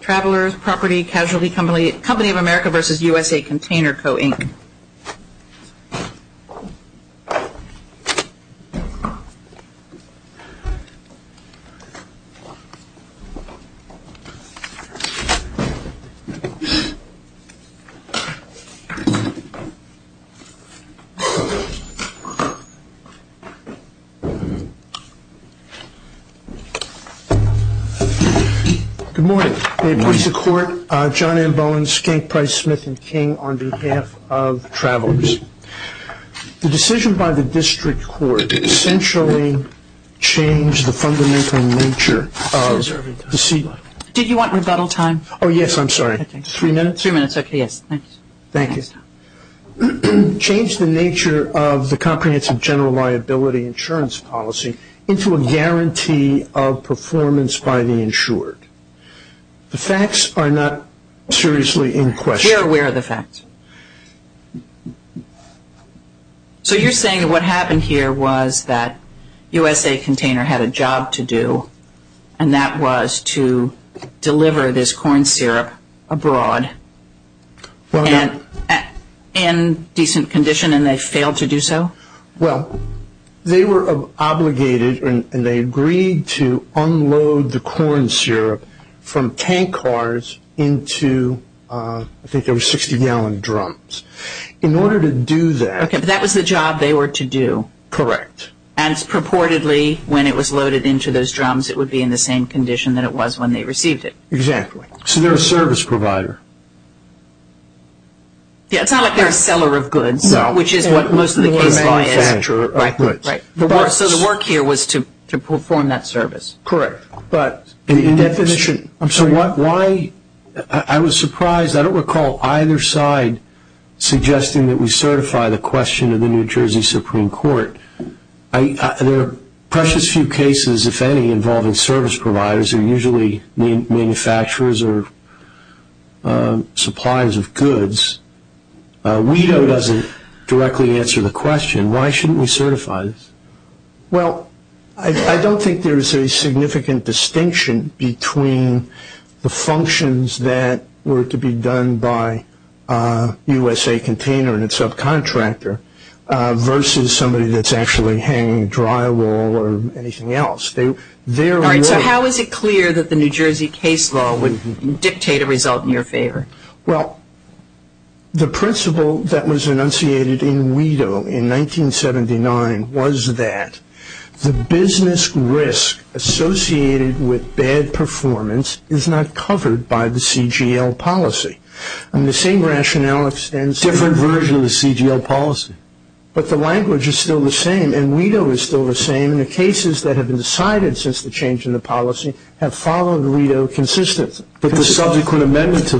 Travelers Property Casualty Company of America v. USA Container Co., Inc. Good morning. I approach the Court, John M. Bowen, Skank Price, Smith and King, on behalf of Travelers. The decision by the District Court essentially changed the fundamental nature of the... Did you want rebuttal time? Oh yes, I'm sorry. Three minutes? Three minutes, okay, yes. Thank you. Changed the nature of the comprehensive general liability insurance policy into a guarantee of performance by the insured. The facts are not seriously in question. We're aware of the facts. So you're saying that what happened here was that USA Container had a job to do, and that was to deliver this corn syrup abroad in decent condition, and they failed to do so? Well, they were obligated, and they agreed to unload the corn syrup from tank cars into, I think it was 60-gallon drums. In order to do that... Okay, but that was the job they were to do. Correct. And purportedly, when it was loaded into those drums, it would be in the same condition that it was when they received it. Exactly. So they're a service provider. Yeah, it's not like they're a seller of goods, which is what most of the case law is. No, they were a manufacturer of goods. Right, so the work here was to perform that service. Correct. So why, I was surprised, I don't recall either side suggesting that we certify the question of the New Jersey Supreme Court. There are precious few cases, if any, involving service providers, who are usually manufacturers or suppliers of goods. WEDO doesn't directly answer the question. Why shouldn't we certify this? Well, I don't think there is a significant distinction between the functions that were to be done by USA Container and its subcontractor versus somebody that's actually hanging drywall or anything else. All right, so how is it clear that the New Jersey case law would dictate a result in your favor? Well, the principle that was enunciated in WEDO in 1979 was that the business risk associated with bad performance is not covered by the CGL policy. And the same rationale extends to a different version of the CGL policy. But the language is still the same, and WEDO is still the same, and the cases that have been decided since the change in the policy have followed WEDO consistently. But the subsequent amendment to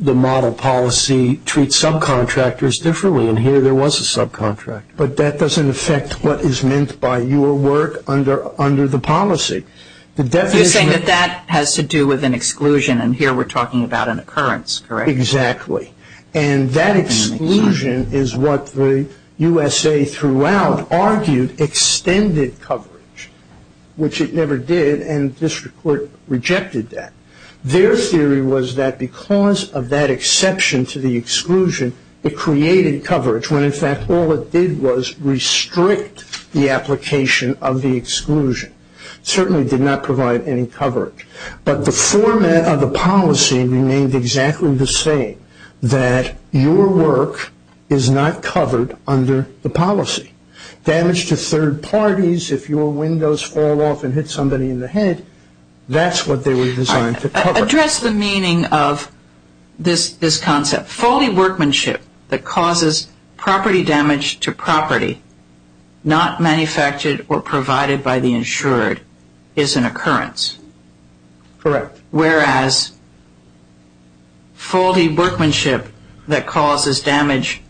the model policy treats subcontractors differently, and here there was a subcontractor. But that doesn't affect what is meant by your work under the policy. You're saying that that has to do with an exclusion, and here we're talking about an occurrence, correct? Exactly. And that exclusion is what the USA throughout argued extended coverage, which it never did, and this Court rejected that. Their theory was that because of that exception to the exclusion, it created coverage, when in fact all it did was restrict the application of the exclusion. It certainly did not provide any coverage. But the format of the policy remained exactly the same, that your work is not covered under the policy. Damage to third parties, if your windows fall off and hit somebody in the head, that's what they were designed to cover. Address the meaning of this concept. Foldy workmanship that causes property damage to property not manufactured or provided by the insured is an occurrence. Correct. Whereas foldy workmanship that causes damage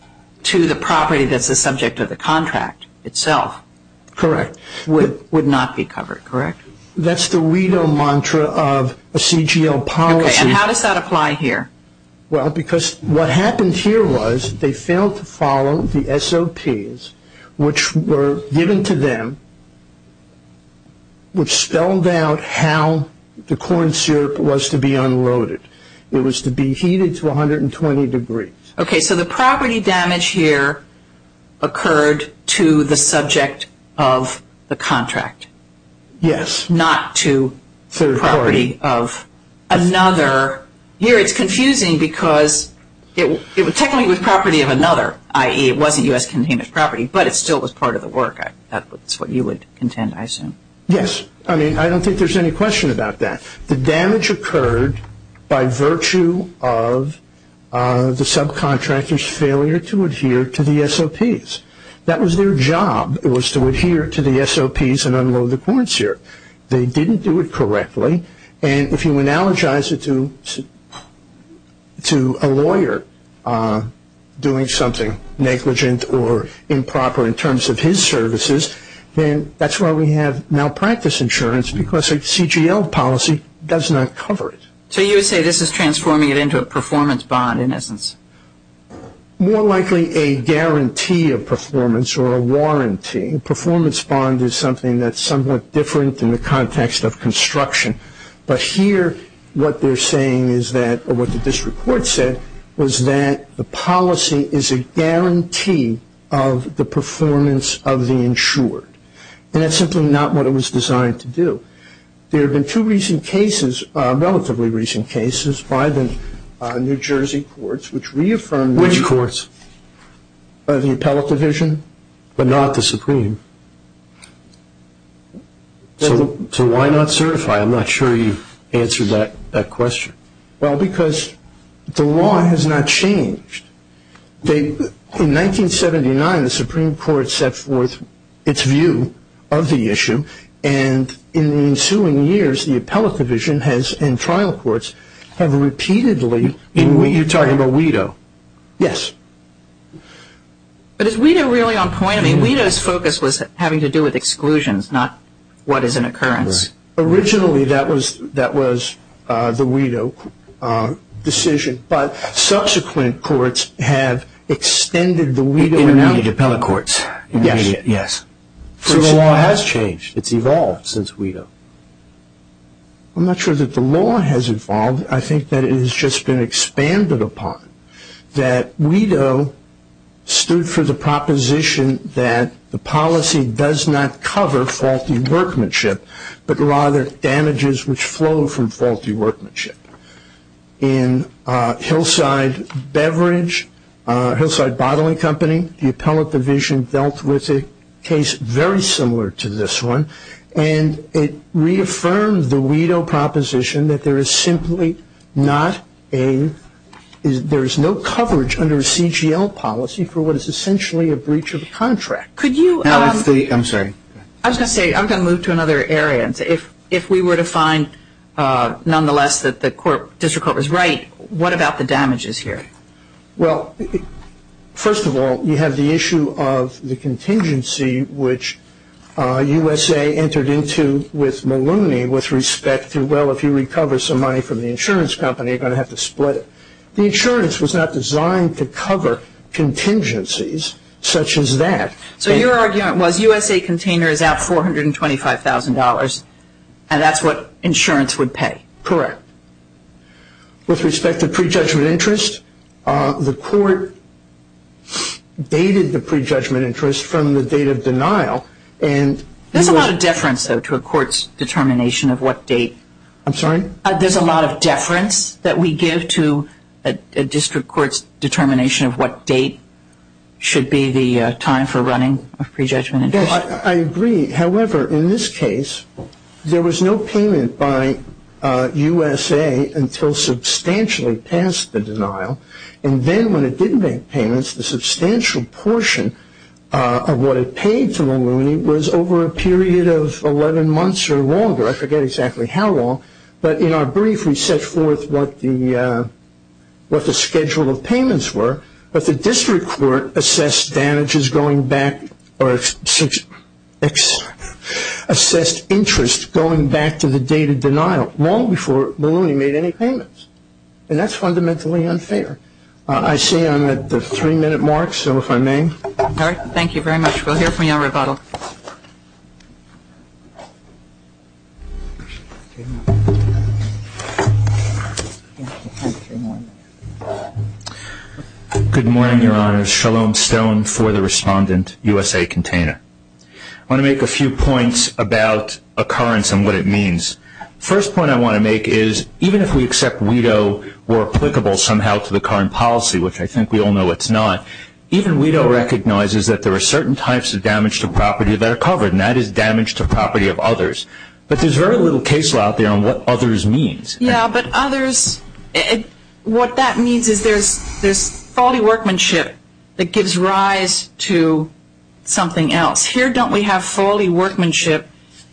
to the property that's the subject of the contract itself. Correct. Would not be covered, correct? That's the WEDO mantra of a CGL policy. Okay, and how does that apply here? Well, because what happened here was they failed to follow the SOPs, which were given to them, which spelled out how the corn syrup was to be unloaded. It was to be heated to 120 degrees. Okay, so the property damage here occurred to the subject of the contract. Yes. Not to property of another. Here it's confusing because technically it was property of another, i.e., it wasn't U.S. containment property, but it still was part of the work. That's what you would contend, I assume. Yes. I mean, I don't think there's any question about that. The damage occurred by virtue of the subcontractor's failure to adhere to the SOPs. That was their job was to adhere to the SOPs and unload the corn syrup. They didn't do it correctly, and if you analogize it to a lawyer doing something negligent or improper in terms of his services, then that's why we have malpractice insurance because a CGL policy does not cover it. So you would say this is transforming it into a performance bond, in essence? More likely a guarantee of performance or a warranty. A performance bond is something that's somewhat different in the context of construction, but here what they're saying is that, or what the district court said, was that the policy is a guarantee of the performance of the insured, and that's simply not what it was designed to do. There have been two recent cases, relatively recent cases, by the New Jersey courts, which reaffirmed that. Which courts? The appellate division, but not the Supreme. So why not certify? I'm not sure you answered that question. Well, because the law has not changed. In 1979, the Supreme Court set forth its view of the issue, and in the ensuing years, the appellate division and trial courts have repeatedly You're talking about WIDO. Yes. But is WIDO really on point? I mean, WIDO's focus was having to do with exclusions, not what is an occurrence. Originally that was the WIDO decision, but subsequent courts have extended the WIDO. Intermediate appellate courts. Yes. So the law has changed. It's evolved since WIDO. I'm not sure that the law has evolved. I think that it has just been expanded upon. That WIDO stood for the proposition that the policy does not cover faulty workmanship, but rather damages which flow from faulty workmanship. In Hillside Beverage, Hillside Bottling Company, the appellate division dealt with a case very similar to this one, and it reaffirmed the WIDO proposition that there is simply not a – there is no coverage under a CGL policy for what is essentially a breach of a contract. Could you – I'm sorry. I was going to say, I'm going to move to another area. If we were to find nonetheless that the district court was right, what about the damages here? Well, first of all, you have the issue of the contingency which USA entered into with Maloney with respect to, well, if you recover some money from the insurance company, you're going to have to split it. The insurance was not designed to cover contingencies such as that. So your argument was USA container is out $425,000, and that's what insurance would pay. Correct. With respect to prejudgment interest, the court dated the prejudgment interest from the date of denial. There's a lot of deference, though, to a court's determination of what date. I'm sorry? There's a lot of deference that we give to a district court's determination of what date should be the time for running a prejudgment interest. I agree. However, in this case, there was no payment by USA until substantially past the denial. And then when it didn't make payments, the substantial portion of what it paid to Maloney was over a period of 11 months or longer. I forget exactly how long. But in our brief, we set forth what the schedule of payments were. But the district court assessed interest going back to the date of denial long before Maloney made any payments. And that's fundamentally unfair. I see I'm at the three-minute mark, so if I may. All right. Thank you very much. We'll hear from you on rebuttal. Good morning, Your Honors. Shalom Stone for the respondent, USA Container. I want to make a few points about occurrence and what it means. First point I want to make is even if we accept WIDO or applicable somehow to the current policy, which I think we all know it's not, even WIDO recognizes that there are certain types of damage to property that are covered, and that is damage to property of others. But there's very little case law out there on what others means. Yeah, but others, what that means is there's faulty workmanship that gives rise to something else. Here don't we have faulty workmanship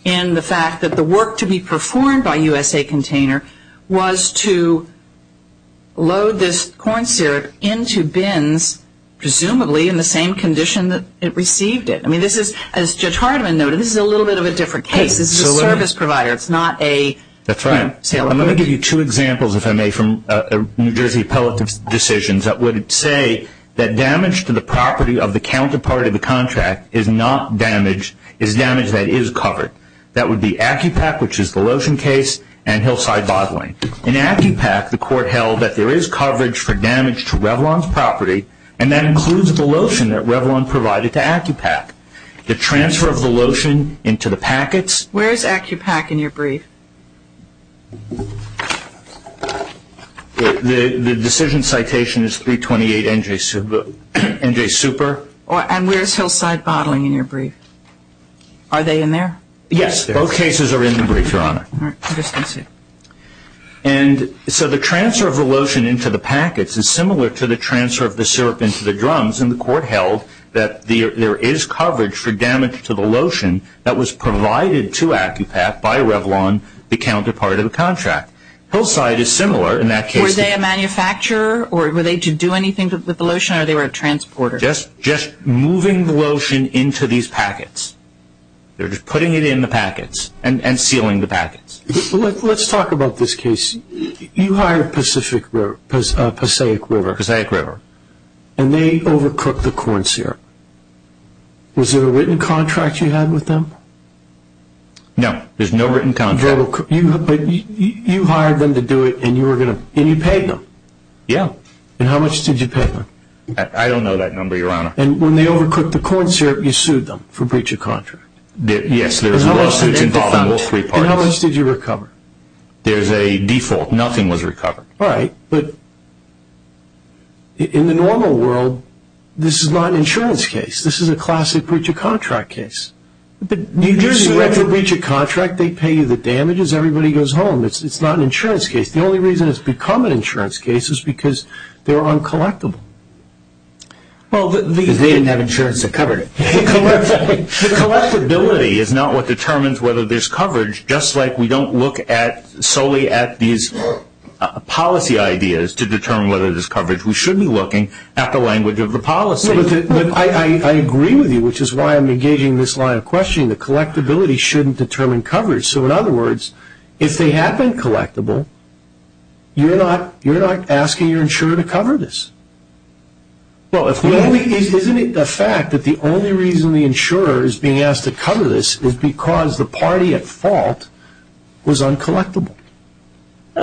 in the fact that the work to be performed by USA Container was to load this corn syrup into bins, presumably in the same condition that it received it. I mean, this is, as Judge Hardiman noted, this is a little bit of a different case. This is a service provider. That's right. I'm going to give you two examples, if I may, from New Jersey appellate decisions that would say that damage to the property of the counterpart of the contract is not damage, is damage that is covered. That would be ACCUPAC, which is the lotion case, and Hillside Bottling. In ACCUPAC, the court held that there is coverage for damage to Revlon's property, and that includes the lotion that Revlon provided to ACCUPAC. The transfer of the lotion into the packets. Where is ACCUPAC in your brief? The decision citation is 328 NJ Super. And where is Hillside Bottling in your brief? Are they in there? Yes. Both cases are in the brief, Your Honor. All right. I just didn't see it. And so the transfer of the lotion into the packets is similar to the transfer of the syrup into the drums, and the court held that there is coverage for damage to the lotion that was provided to ACCUPAC by Revlon, the counterpart of the contract. Hillside is similar in that case. Were they a manufacturer, or were they to do anything with the lotion, or they were a transporter? Just moving the lotion into these packets. They're just putting it in the packets and sealing the packets. Let's talk about this case. You hire Pacific River, Passaic River. Passaic River. And they overcooked the corn syrup. Was there a written contract you had with them? No. There's no written contract. You hired them to do it, and you paid them? Yeah. And how much did you pay them? I don't know that number, Your Honor. And when they overcooked the corn syrup, you sued them for breach of contract? Yes. And how much did you recover? There's a default. Nothing was recovered. All right. But in the normal world, this is not an insurance case. This is a classic breach of contract case. You sue them for breach of contract, they pay you the damages, everybody goes home. It's not an insurance case. The only reason it's become an insurance case is because they're uncollectible. Because they didn't have insurance to cover it. The collectability is not what determines whether there's coverage, just like we don't look solely at these policy ideas to determine whether there's coverage. We should be looking at the language of the policy. I agree with you, which is why I'm engaging this line of questioning. The collectability shouldn't determine coverage. So, in other words, if they have been collectible, you're not asking your insurer to cover this. Isn't it a fact that the only reason the insurer is being asked to cover this is because the party at fault was uncollectible?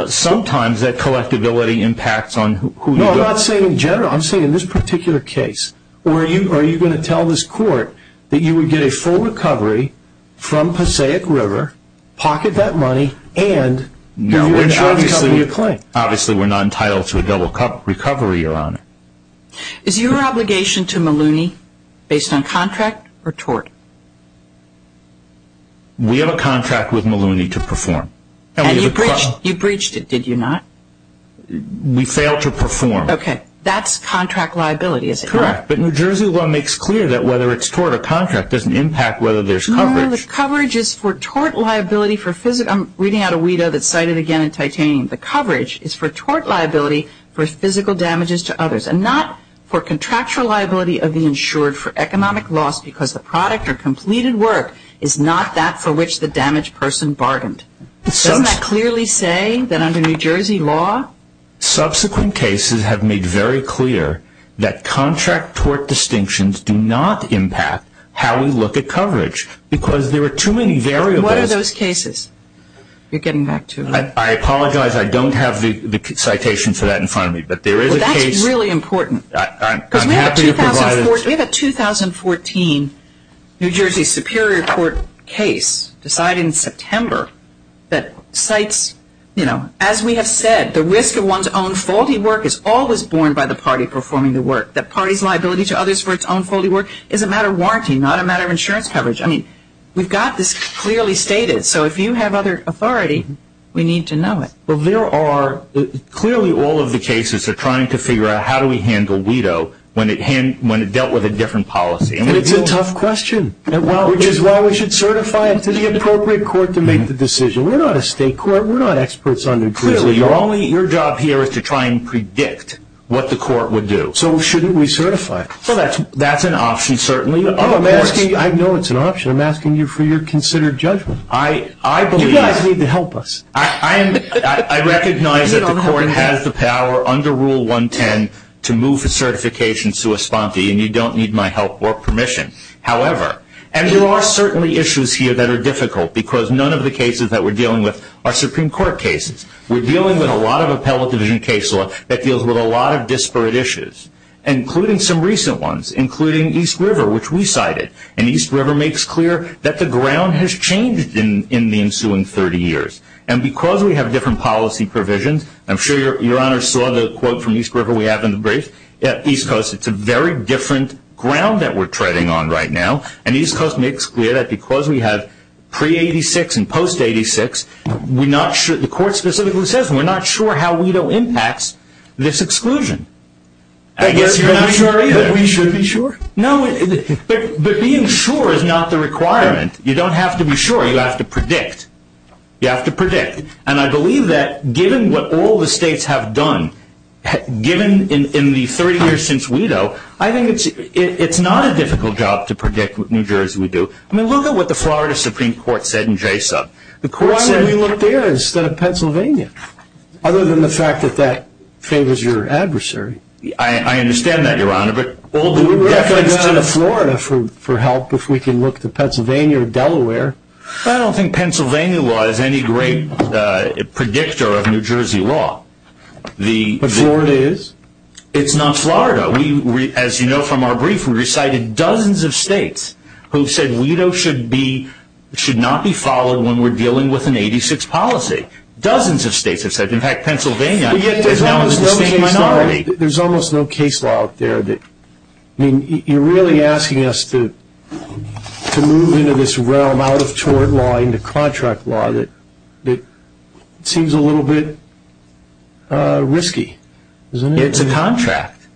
Sometimes that collectability impacts on who you go to. No, I'm not saying in general. I'm saying in this particular case. Are you going to tell this court that you would get a full recovery from Passaic River, pocket that money, and you would insure it to cover your claim? Obviously, we're not entitled to a double recovery, Your Honor. Is your obligation to Maloney based on contract or tort? We have a contract with Maloney to perform. And you breached it, did you not? We failed to perform. Okay. That's contract liability, is it not? Correct. But New Jersey law makes clear that whether it's tort or contract doesn't impact whether there's coverage. No, the coverage is for tort liability for physical. I'm reading out a WIDO that's cited again in titanium. The coverage is for tort liability for physical damages to others and not for contractual liability of the insured for economic loss because the product or completed work is not that for which the damaged person bargained. Doesn't that clearly say that under New Jersey law? Subsequent cases have made very clear that contract-tort distinctions do not impact how we look at coverage because there are too many variables. What are those cases? You're getting back to it. I apologize. I don't have the citation for that in front of me, but there is a case. Well, that's really important. I'm happy to provide it. We have a 2014 New Jersey Superior Court case decided in September that cites, you know, as we have said, the risk of one's own faulty work is always borne by the party performing the work. The party's liability to others for its own faulty work is a matter of warranty, not a matter of insurance coverage. I mean, we've got this clearly stated. So if you have other authority, we need to know it. Well, there are clearly all of the cases are trying to figure out how do we handle WIDO when it dealt with a different policy. And it's a tough question, which is why we should certify it to the appropriate court to make the decision. We're not a state court. We're not experts on New Jersey law. Clearly, your job here is to try and predict what the court would do. So shouldn't we certify it? Well, that's an option, certainly. I know it's an option. I'm asking you for your considered judgment. You guys need to help us. I recognize that the court has the power under Rule 110 to move the certification to a sponte, and you don't need my help or permission. However, and there are certainly issues here that are difficult because none of the cases that we're dealing with are Supreme Court cases. We're dealing with a lot of appellate division case law that deals with a lot of disparate issues, including some recent ones, including East River, which we cited. And East River makes clear that the ground has changed in the ensuing 30 years. And because we have different policy provisions, I'm sure your Honor saw the quote from East River we have in the brief. At East Coast, it's a very different ground that we're treading on right now. And East Coast makes clear that because we have pre-'86 and post-'86, the court specifically says we're not sure how WIDO impacts this exclusion. I guess you're not sure either. We should be sure. No, but being sure is not the requirement. You don't have to be sure. You have to predict. You have to predict. And I believe that given what all the states have done, given in the 30 years since WIDO, I think it's not a difficult job to predict what New Jersey would do. I mean, look at what the Florida Supreme Court said in JSOB. The court said we look there instead of Pennsylvania, other than the fact that that favors your adversary. I understand that, Your Honor. But we're not going to go to Florida for help if we can look to Pennsylvania or Delaware. I don't think Pennsylvania law is any great predictor of New Jersey law. But Florida is. It's not Florida. As you know from our brief, we recited dozens of states who said WIDO should not be followed when we're dealing with an 86 policy. Dozens of states have said it. In fact, Pennsylvania is now the same minority. There's almost no case law out there that, I mean, you're really asking us to move into this realm out of tort law into contract law that seems a little bit risky, isn't it? It's a contract.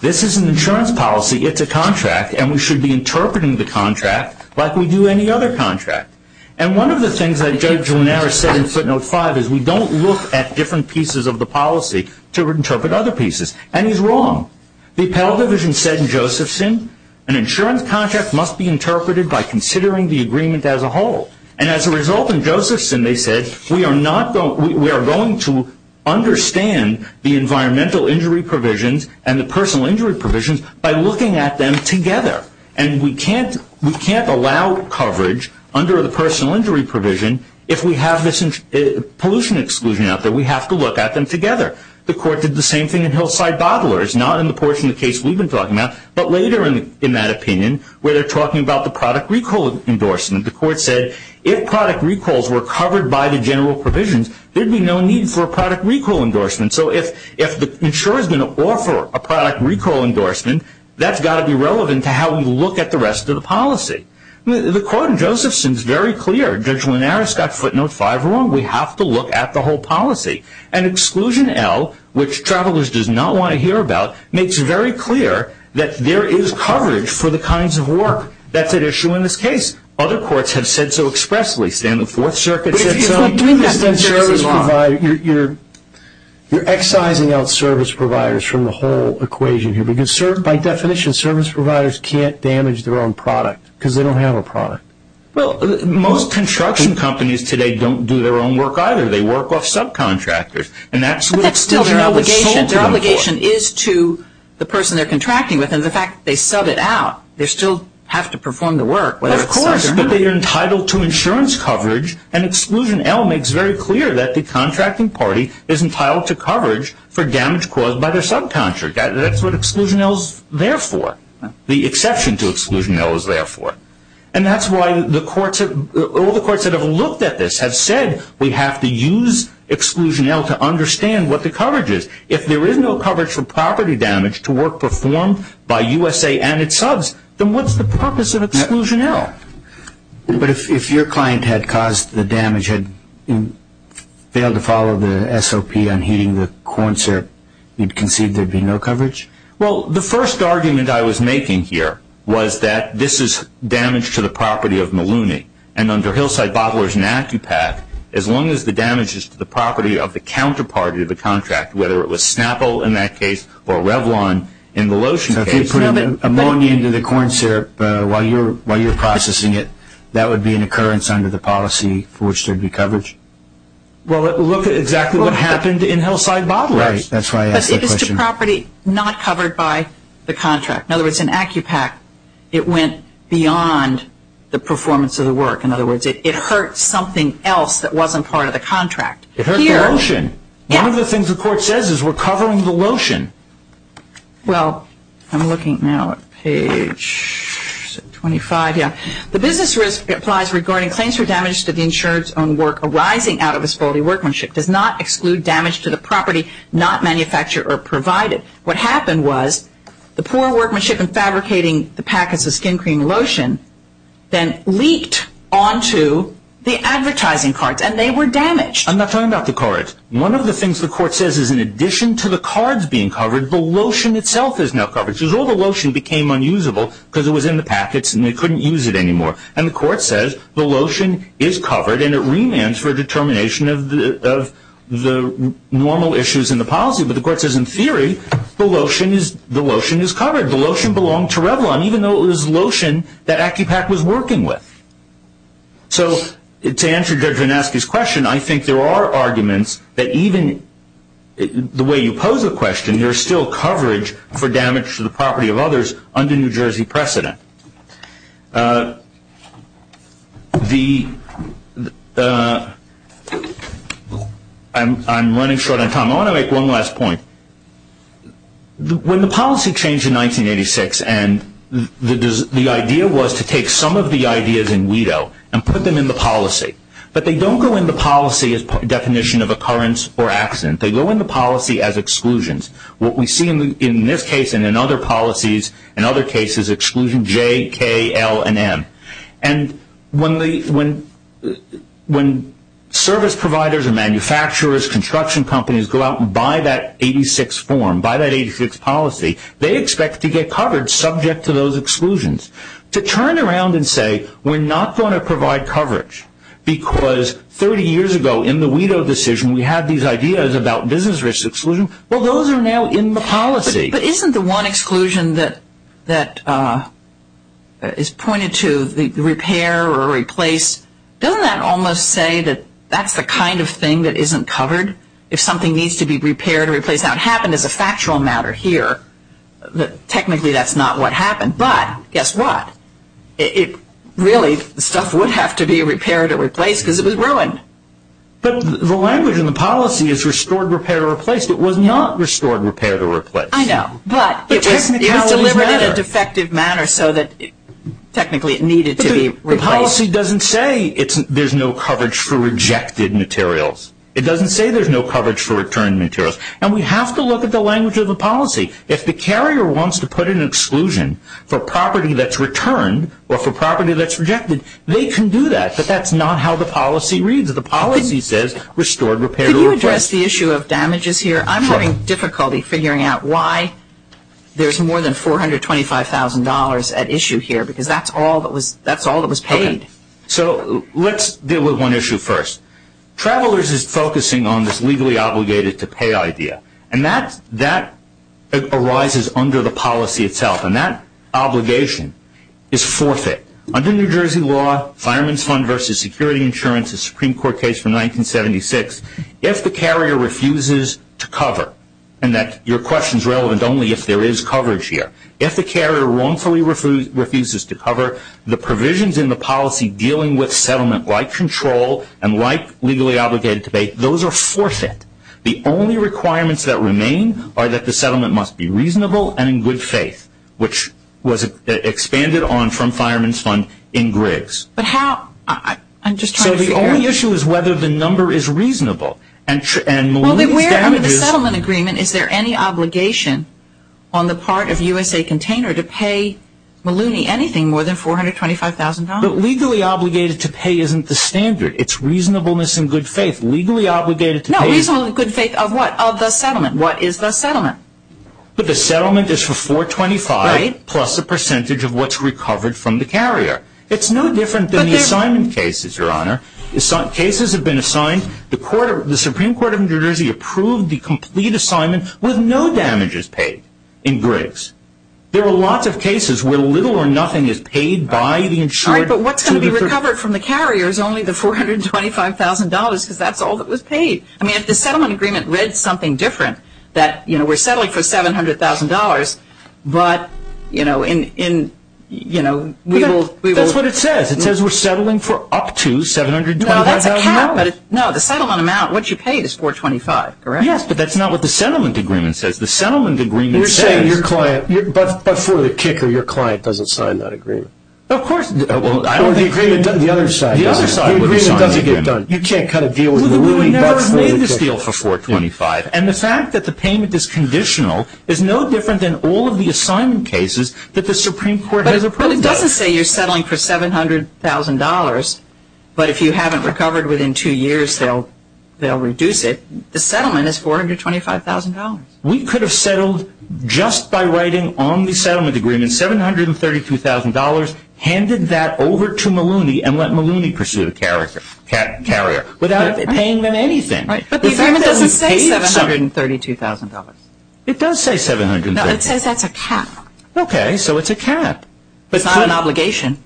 This is an insurance policy. It's a contract. And we should be interpreting the contract like we do any other contract. And one of the things that Judge Lunaris said in footnote five is we don't look at different pieces of the policy to interpret other pieces. And he's wrong. The appellate division said in Josephson an insurance contract must be interpreted by considering the agreement as a whole. And as a result in Josephson they said we are going to understand the environmental injury provisions and the personal injury provisions by looking at them together. And we can't allow coverage under the personal injury provision if we have this pollution exclusion out there. We have to look at them together. The court did the same thing in Hillside Bottlers, not in the portion of the case we've been talking about, but later in that opinion where they're talking about the product recall endorsement. The court said if product recalls were covered by the general provisions, there would be no need for a product recall endorsement. So if the insurer is going to offer a product recall endorsement, that's got to be relevant to how we look at the rest of the policy. The court in Josephson is very clear. Judge Lunaris got footnote five wrong. We have to look at the whole policy. And exclusion L, which travelers does not want to hear about, makes it very clear that there is coverage for the kinds of work that's at issue in this case. Other courts have said so expressly. You're excising out service providers from the whole equation here. By definition, service providers can't damage their own product because they don't have a product. Well, most construction companies today don't do their own work either. They work off subcontractors. But that's still their obligation. Their obligation is to the person they're contracting with. And the fact they sub it out, they still have to perform the work. Of course, but they are entitled to insurance coverage. And exclusion L makes very clear that the contracting party is entitled to coverage for damage caused by their subcontractor. That's what exclusion L is there for. The exception to exclusion L is there for. And that's why all the courts that have looked at this have said we have to use exclusion L to understand what the coverage is. If there is no coverage for property damage to work performed by USA and its subs, then what's the purpose of exclusion L? But if your client had caused the damage, had failed to follow the SOP on heating the corn syrup, you'd concede there'd be no coverage? Well, the first argument I was making here was that this is damage to the property of Malooney. And under Hillside Bottlers and ACCUPAC, as long as the damage is to the property of the counterparty of the contract, whether it was Snapple in that case or Revlon in the lotion case. If you put ammonia into the corn syrup while you're processing it, that would be an occurrence under the policy for which there'd be coverage? Well, look at exactly what happened in Hillside Bottlers. Right. That's why I asked that question. But it is to property not covered by the contract. In other words, in ACCUPAC, it went beyond the performance of the work. In other words, it hurt something else that wasn't part of the contract. It hurt the lotion. Yeah. One of the things the court says is we're covering the lotion. Well, I'm looking now at page 25, yeah. The business risk applies regarding claims for damage to the insured's own work arising out of his faulty workmanship. Does not exclude damage to the property not manufactured or provided. What happened was the poor workmanship in fabricating the packets of skin cream and lotion then leaked onto the advertising cards, and they were damaged. I'm not talking about the cards. One of the things the court says is in addition to the cards being covered, the lotion itself is now covered. So all the lotion became unusable because it was in the packets and they couldn't use it anymore. And the court says the lotion is covered, and it remands for determination of the normal issues in the policy. But the court says in theory the lotion is covered. The lotion belonged to Revlon, even though it was lotion that ACCUPAC was working with. So to answer Judge Vineski's question, I think there are arguments that even the way you pose the question, there is still coverage for damage to the property of others under New Jersey precedent. I'm running short on time. I want to make one last point. When the policy changed in 1986 and the idea was to take some of the ideas in WIDO and put them in the policy, but they don't go in the policy as definition of occurrence or accident. They go in the policy as exclusions. What we see in this case and in other policies, in other cases, exclusion J, K, L, and M. And when service providers and manufacturers, construction companies go out and buy that 86 form, buy that 86 policy, they expect to get covered subject to those exclusions. To turn around and say we're not going to provide coverage because 30 years ago in the WIDO decision, we had these ideas about business risk exclusion, well, those are now in the policy. But isn't the one exclusion that is pointed to the repair or replace, doesn't that almost say that that's the kind of thing that isn't covered? If something needs to be repaired or replaced. Now, it happened as a factual matter here. Technically, that's not what happened, but guess what? Really, stuff would have to be repaired or replaced because it was ruined. At least it was not restored, repaired, or replaced. I know, but it was delivered in a defective manner so that technically it needed to be replaced. The policy doesn't say there's no coverage for rejected materials. It doesn't say there's no coverage for returned materials. And we have to look at the language of the policy. If the carrier wants to put an exclusion for property that's returned or for property that's rejected, they can do that, but that's not how the policy reads. The policy says restored, repaired, or replaced. Could you address the issue of damages here? I'm having difficulty figuring out why there's more than $425,000 at issue here because that's all that was paid. Okay, so let's deal with one issue first. Travelers is focusing on this legally obligated to pay idea. And that arises under the policy itself, and that obligation is forfeit. Under New Jersey law, fireman's fund versus security insurance, a Supreme Court case from 1976, if the carrier refuses to cover, and your question is relevant only if there is coverage here, if the carrier wrongfully refuses to cover, the provisions in the policy dealing with settlement like control and like legally obligated to pay, those are forfeit. The only requirements that remain are that the settlement must be reasonable and in good faith, So the only issue is whether the number is reasonable. Under the settlement agreement, is there any obligation on the part of USA Container to pay Maluni anything more than $425,000? But legally obligated to pay isn't the standard. It's reasonableness and good faith. Legally obligated to pay is... No, reasonable and good faith of what? Of the settlement. What is the settlement? The settlement is for $425,000 plus a percentage of what's recovered from the carrier. It's no different than the assignment cases, Your Honor. The cases have been assigned. The Supreme Court of New Jersey approved the complete assignment with no damages paid in breaks. There are lots of cases where little or nothing is paid by the insured... All right, but what's going to be recovered from the carrier is only the $425,000 because that's all that was paid. I mean, if the settlement agreement read something different, that, you know, we're settling for $700,000, but, you know, we will... That's what it says. It says we're settling for up to $725,000. No, that's a cap, but... No, the settlement amount, what you pay is $425,000, correct? Yes, but that's not what the settlement agreement says. The settlement agreement says... You're saying your client... But for the kicker, your client doesn't sign that agreement. Of course... Well, I don't think... The agreement on the other side doesn't... The other side doesn't... The agreement doesn't get done. You can't cut a deal with Maluni... We've never made this deal for $425,000. And the fact that the payment is conditional is no different than all of the assignment cases that the Supreme Court has approved of. But it doesn't say you're settling for $700,000, but if you haven't recovered within two years, they'll reduce it. The settlement is $425,000. We could have settled just by writing on the settlement agreement $732,000, handed that over to Maluni, and let Maluni pursue the carrier without paying them anything. But the agreement doesn't say $732,000. It does say $732,000. No, it says that's a cap. Okay, so it's a cap. It's not an obligation.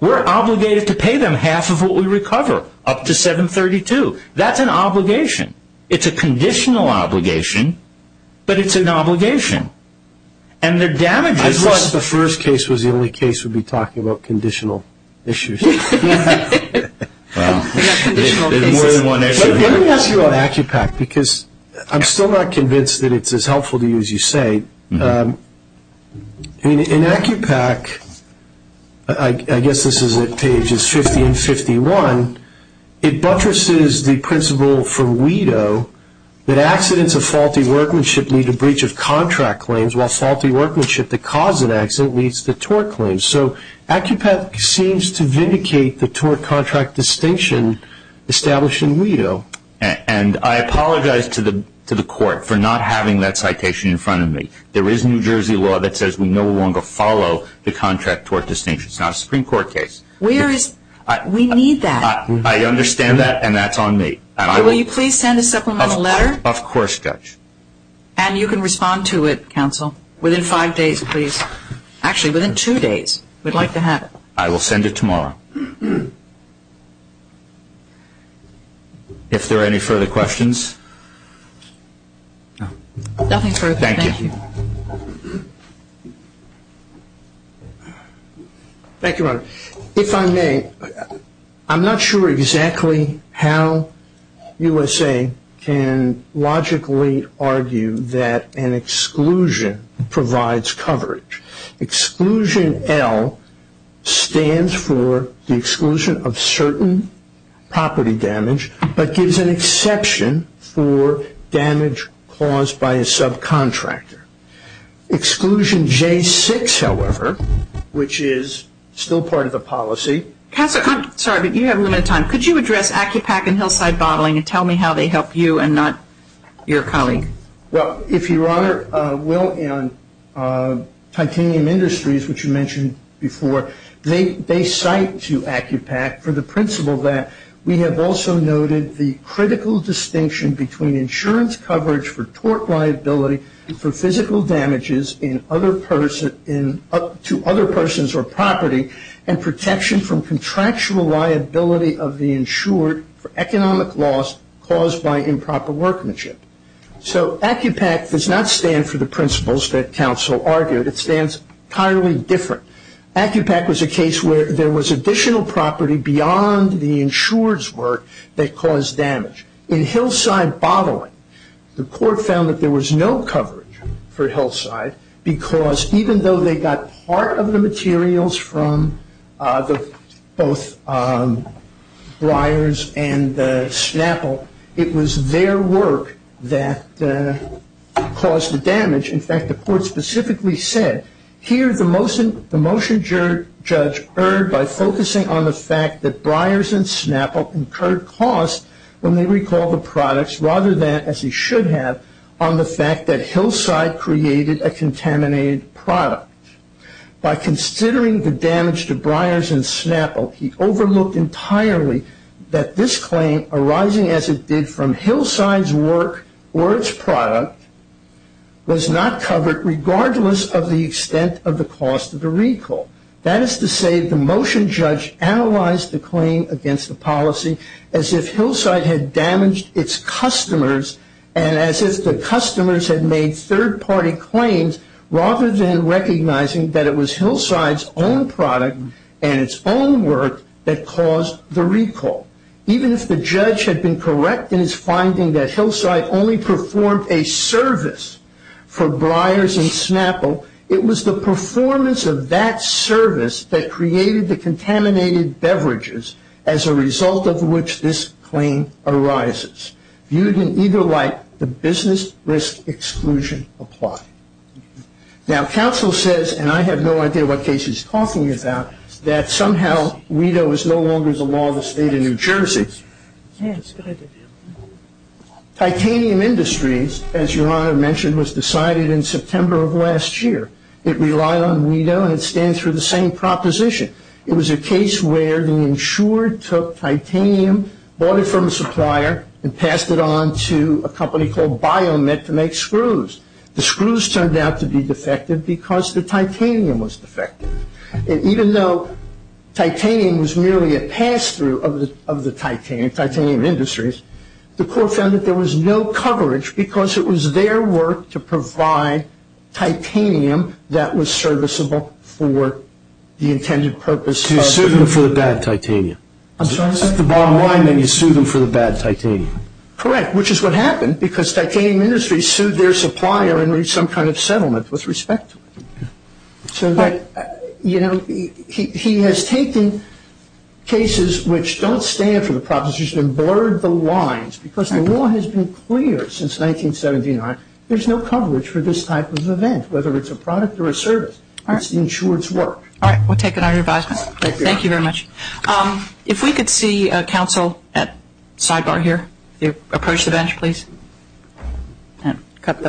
We're obligated to pay them half of what we recover, up to $732,000. That's an obligation. It's a conditional obligation, but it's an obligation. And their damages... I thought the first case was the only case we'd be talking about conditional issues. There's more than one issue. Let me ask you about ACCUPAC, because I'm still not convinced that it's as helpful to you as you say. In ACCUPAC, I guess this is at pages 50 and 51, it buttresses the principle for WIDO that accidents of faulty workmanship lead to breach of contract claims, while faulty workmanship that caused an accident leads to tort claims. So ACCUPAC seems to vindicate the tort-contract distinction established in WIDO. And I apologize to the Court for not having that citation in front of me. There is New Jersey law that says we no longer follow the contract-tort distinction. It's not a Supreme Court case. We need that. I understand that, and that's on me. Will you please send a supplemental letter? Of course, Judge. And you can respond to it, Counsel, within five days, please. Actually, within two days, we'd like to have it. I will send it tomorrow. If there are any further questions? Nothing further. Thank you. Thank you, Your Honor. If I may, I'm not sure exactly how USA can logically argue that an exclusion provides coverage. Exclusion L stands for the exclusion of certain property damage, but gives an exception for damage caused by a subcontractor. Exclusion J6, however, which is still part of the policy. Counsel, I'm sorry, but you have limited time. Could you address ACCUPAC and Hillside Bottling and tell me how they help you and not your colleague? Well, if Your Honor, Will and Titanium Industries, which you mentioned before, they cite to ACCUPAC for the principle that we have also noted the critical distinction between insurance coverage for tort liability for physical damages to other persons or property and protection from contractual liability of the insured for economic loss caused by improper workmanship. So ACCUPAC does not stand for the principles that counsel argued. It stands entirely different. ACCUPAC was a case where there was additional property beyond the insured's work that caused damage. In Hillside Bottling, the court found that there was no coverage for Hillside because even though they got part of the materials from both Breyers and Snapple, it was their work that caused the damage. In fact, the court specifically said, here the motion judge erred by focusing on the fact that Breyers and Snapple incurred costs when they recalled the products rather than, as they should have, on the fact that Hillside created a contaminated product. By considering the damage to Breyers and Snapple, he overlooked entirely that this claim arising as it did from Hillside's work or its product was not covered regardless of the extent of the cost of the recall. That is to say, the motion judge analyzed the claim against the policy as if Hillside had damaged its customers and as if the customers had made third-party claims rather than recognizing that it was Hillside's own product and its own work that caused the recall. Even if the judge had been correct in his finding that Hillside only performed a service for Breyers and Snapple, it was the performance of that service that created the contaminated beverages as a result of which this claim arises. Viewed in either light, the business risk exclusion applied. Now, counsel says, and I have no idea what case he's talking about, that somehow WETA was no longer the law of the state of New Jersey. Titanium industries, as Your Honor mentioned, was decided in September of last year. It relied on WETA and it stands for the same proposition. It was a case where the insurer took titanium, bought it from a supplier, and passed it on to a company called BioMet to make screws. The screws turned out to be defective because the titanium was defective. Even though titanium was merely a pass-through of the titanium industries, the court found that there was no coverage because it was their work to provide titanium that was serviceable for the intended purpose. You sued them for the bad titanium. I'm sorry? At the bottom line, you sued them for the bad titanium. Correct, which is what happened because titanium industries sued their supplier and reached some kind of settlement with respect to it. So that, you know, he has taken cases which don't stand for the proposition and blurred the lines because the law has been clear since 1979. There's no coverage for this type of event, whether it's a product or a service. All right. It's the insurer's work. All right. We'll take it under advisement. Thank you very much. If we could see counsel at sidebar here. Approach the bench, please. And cut them out.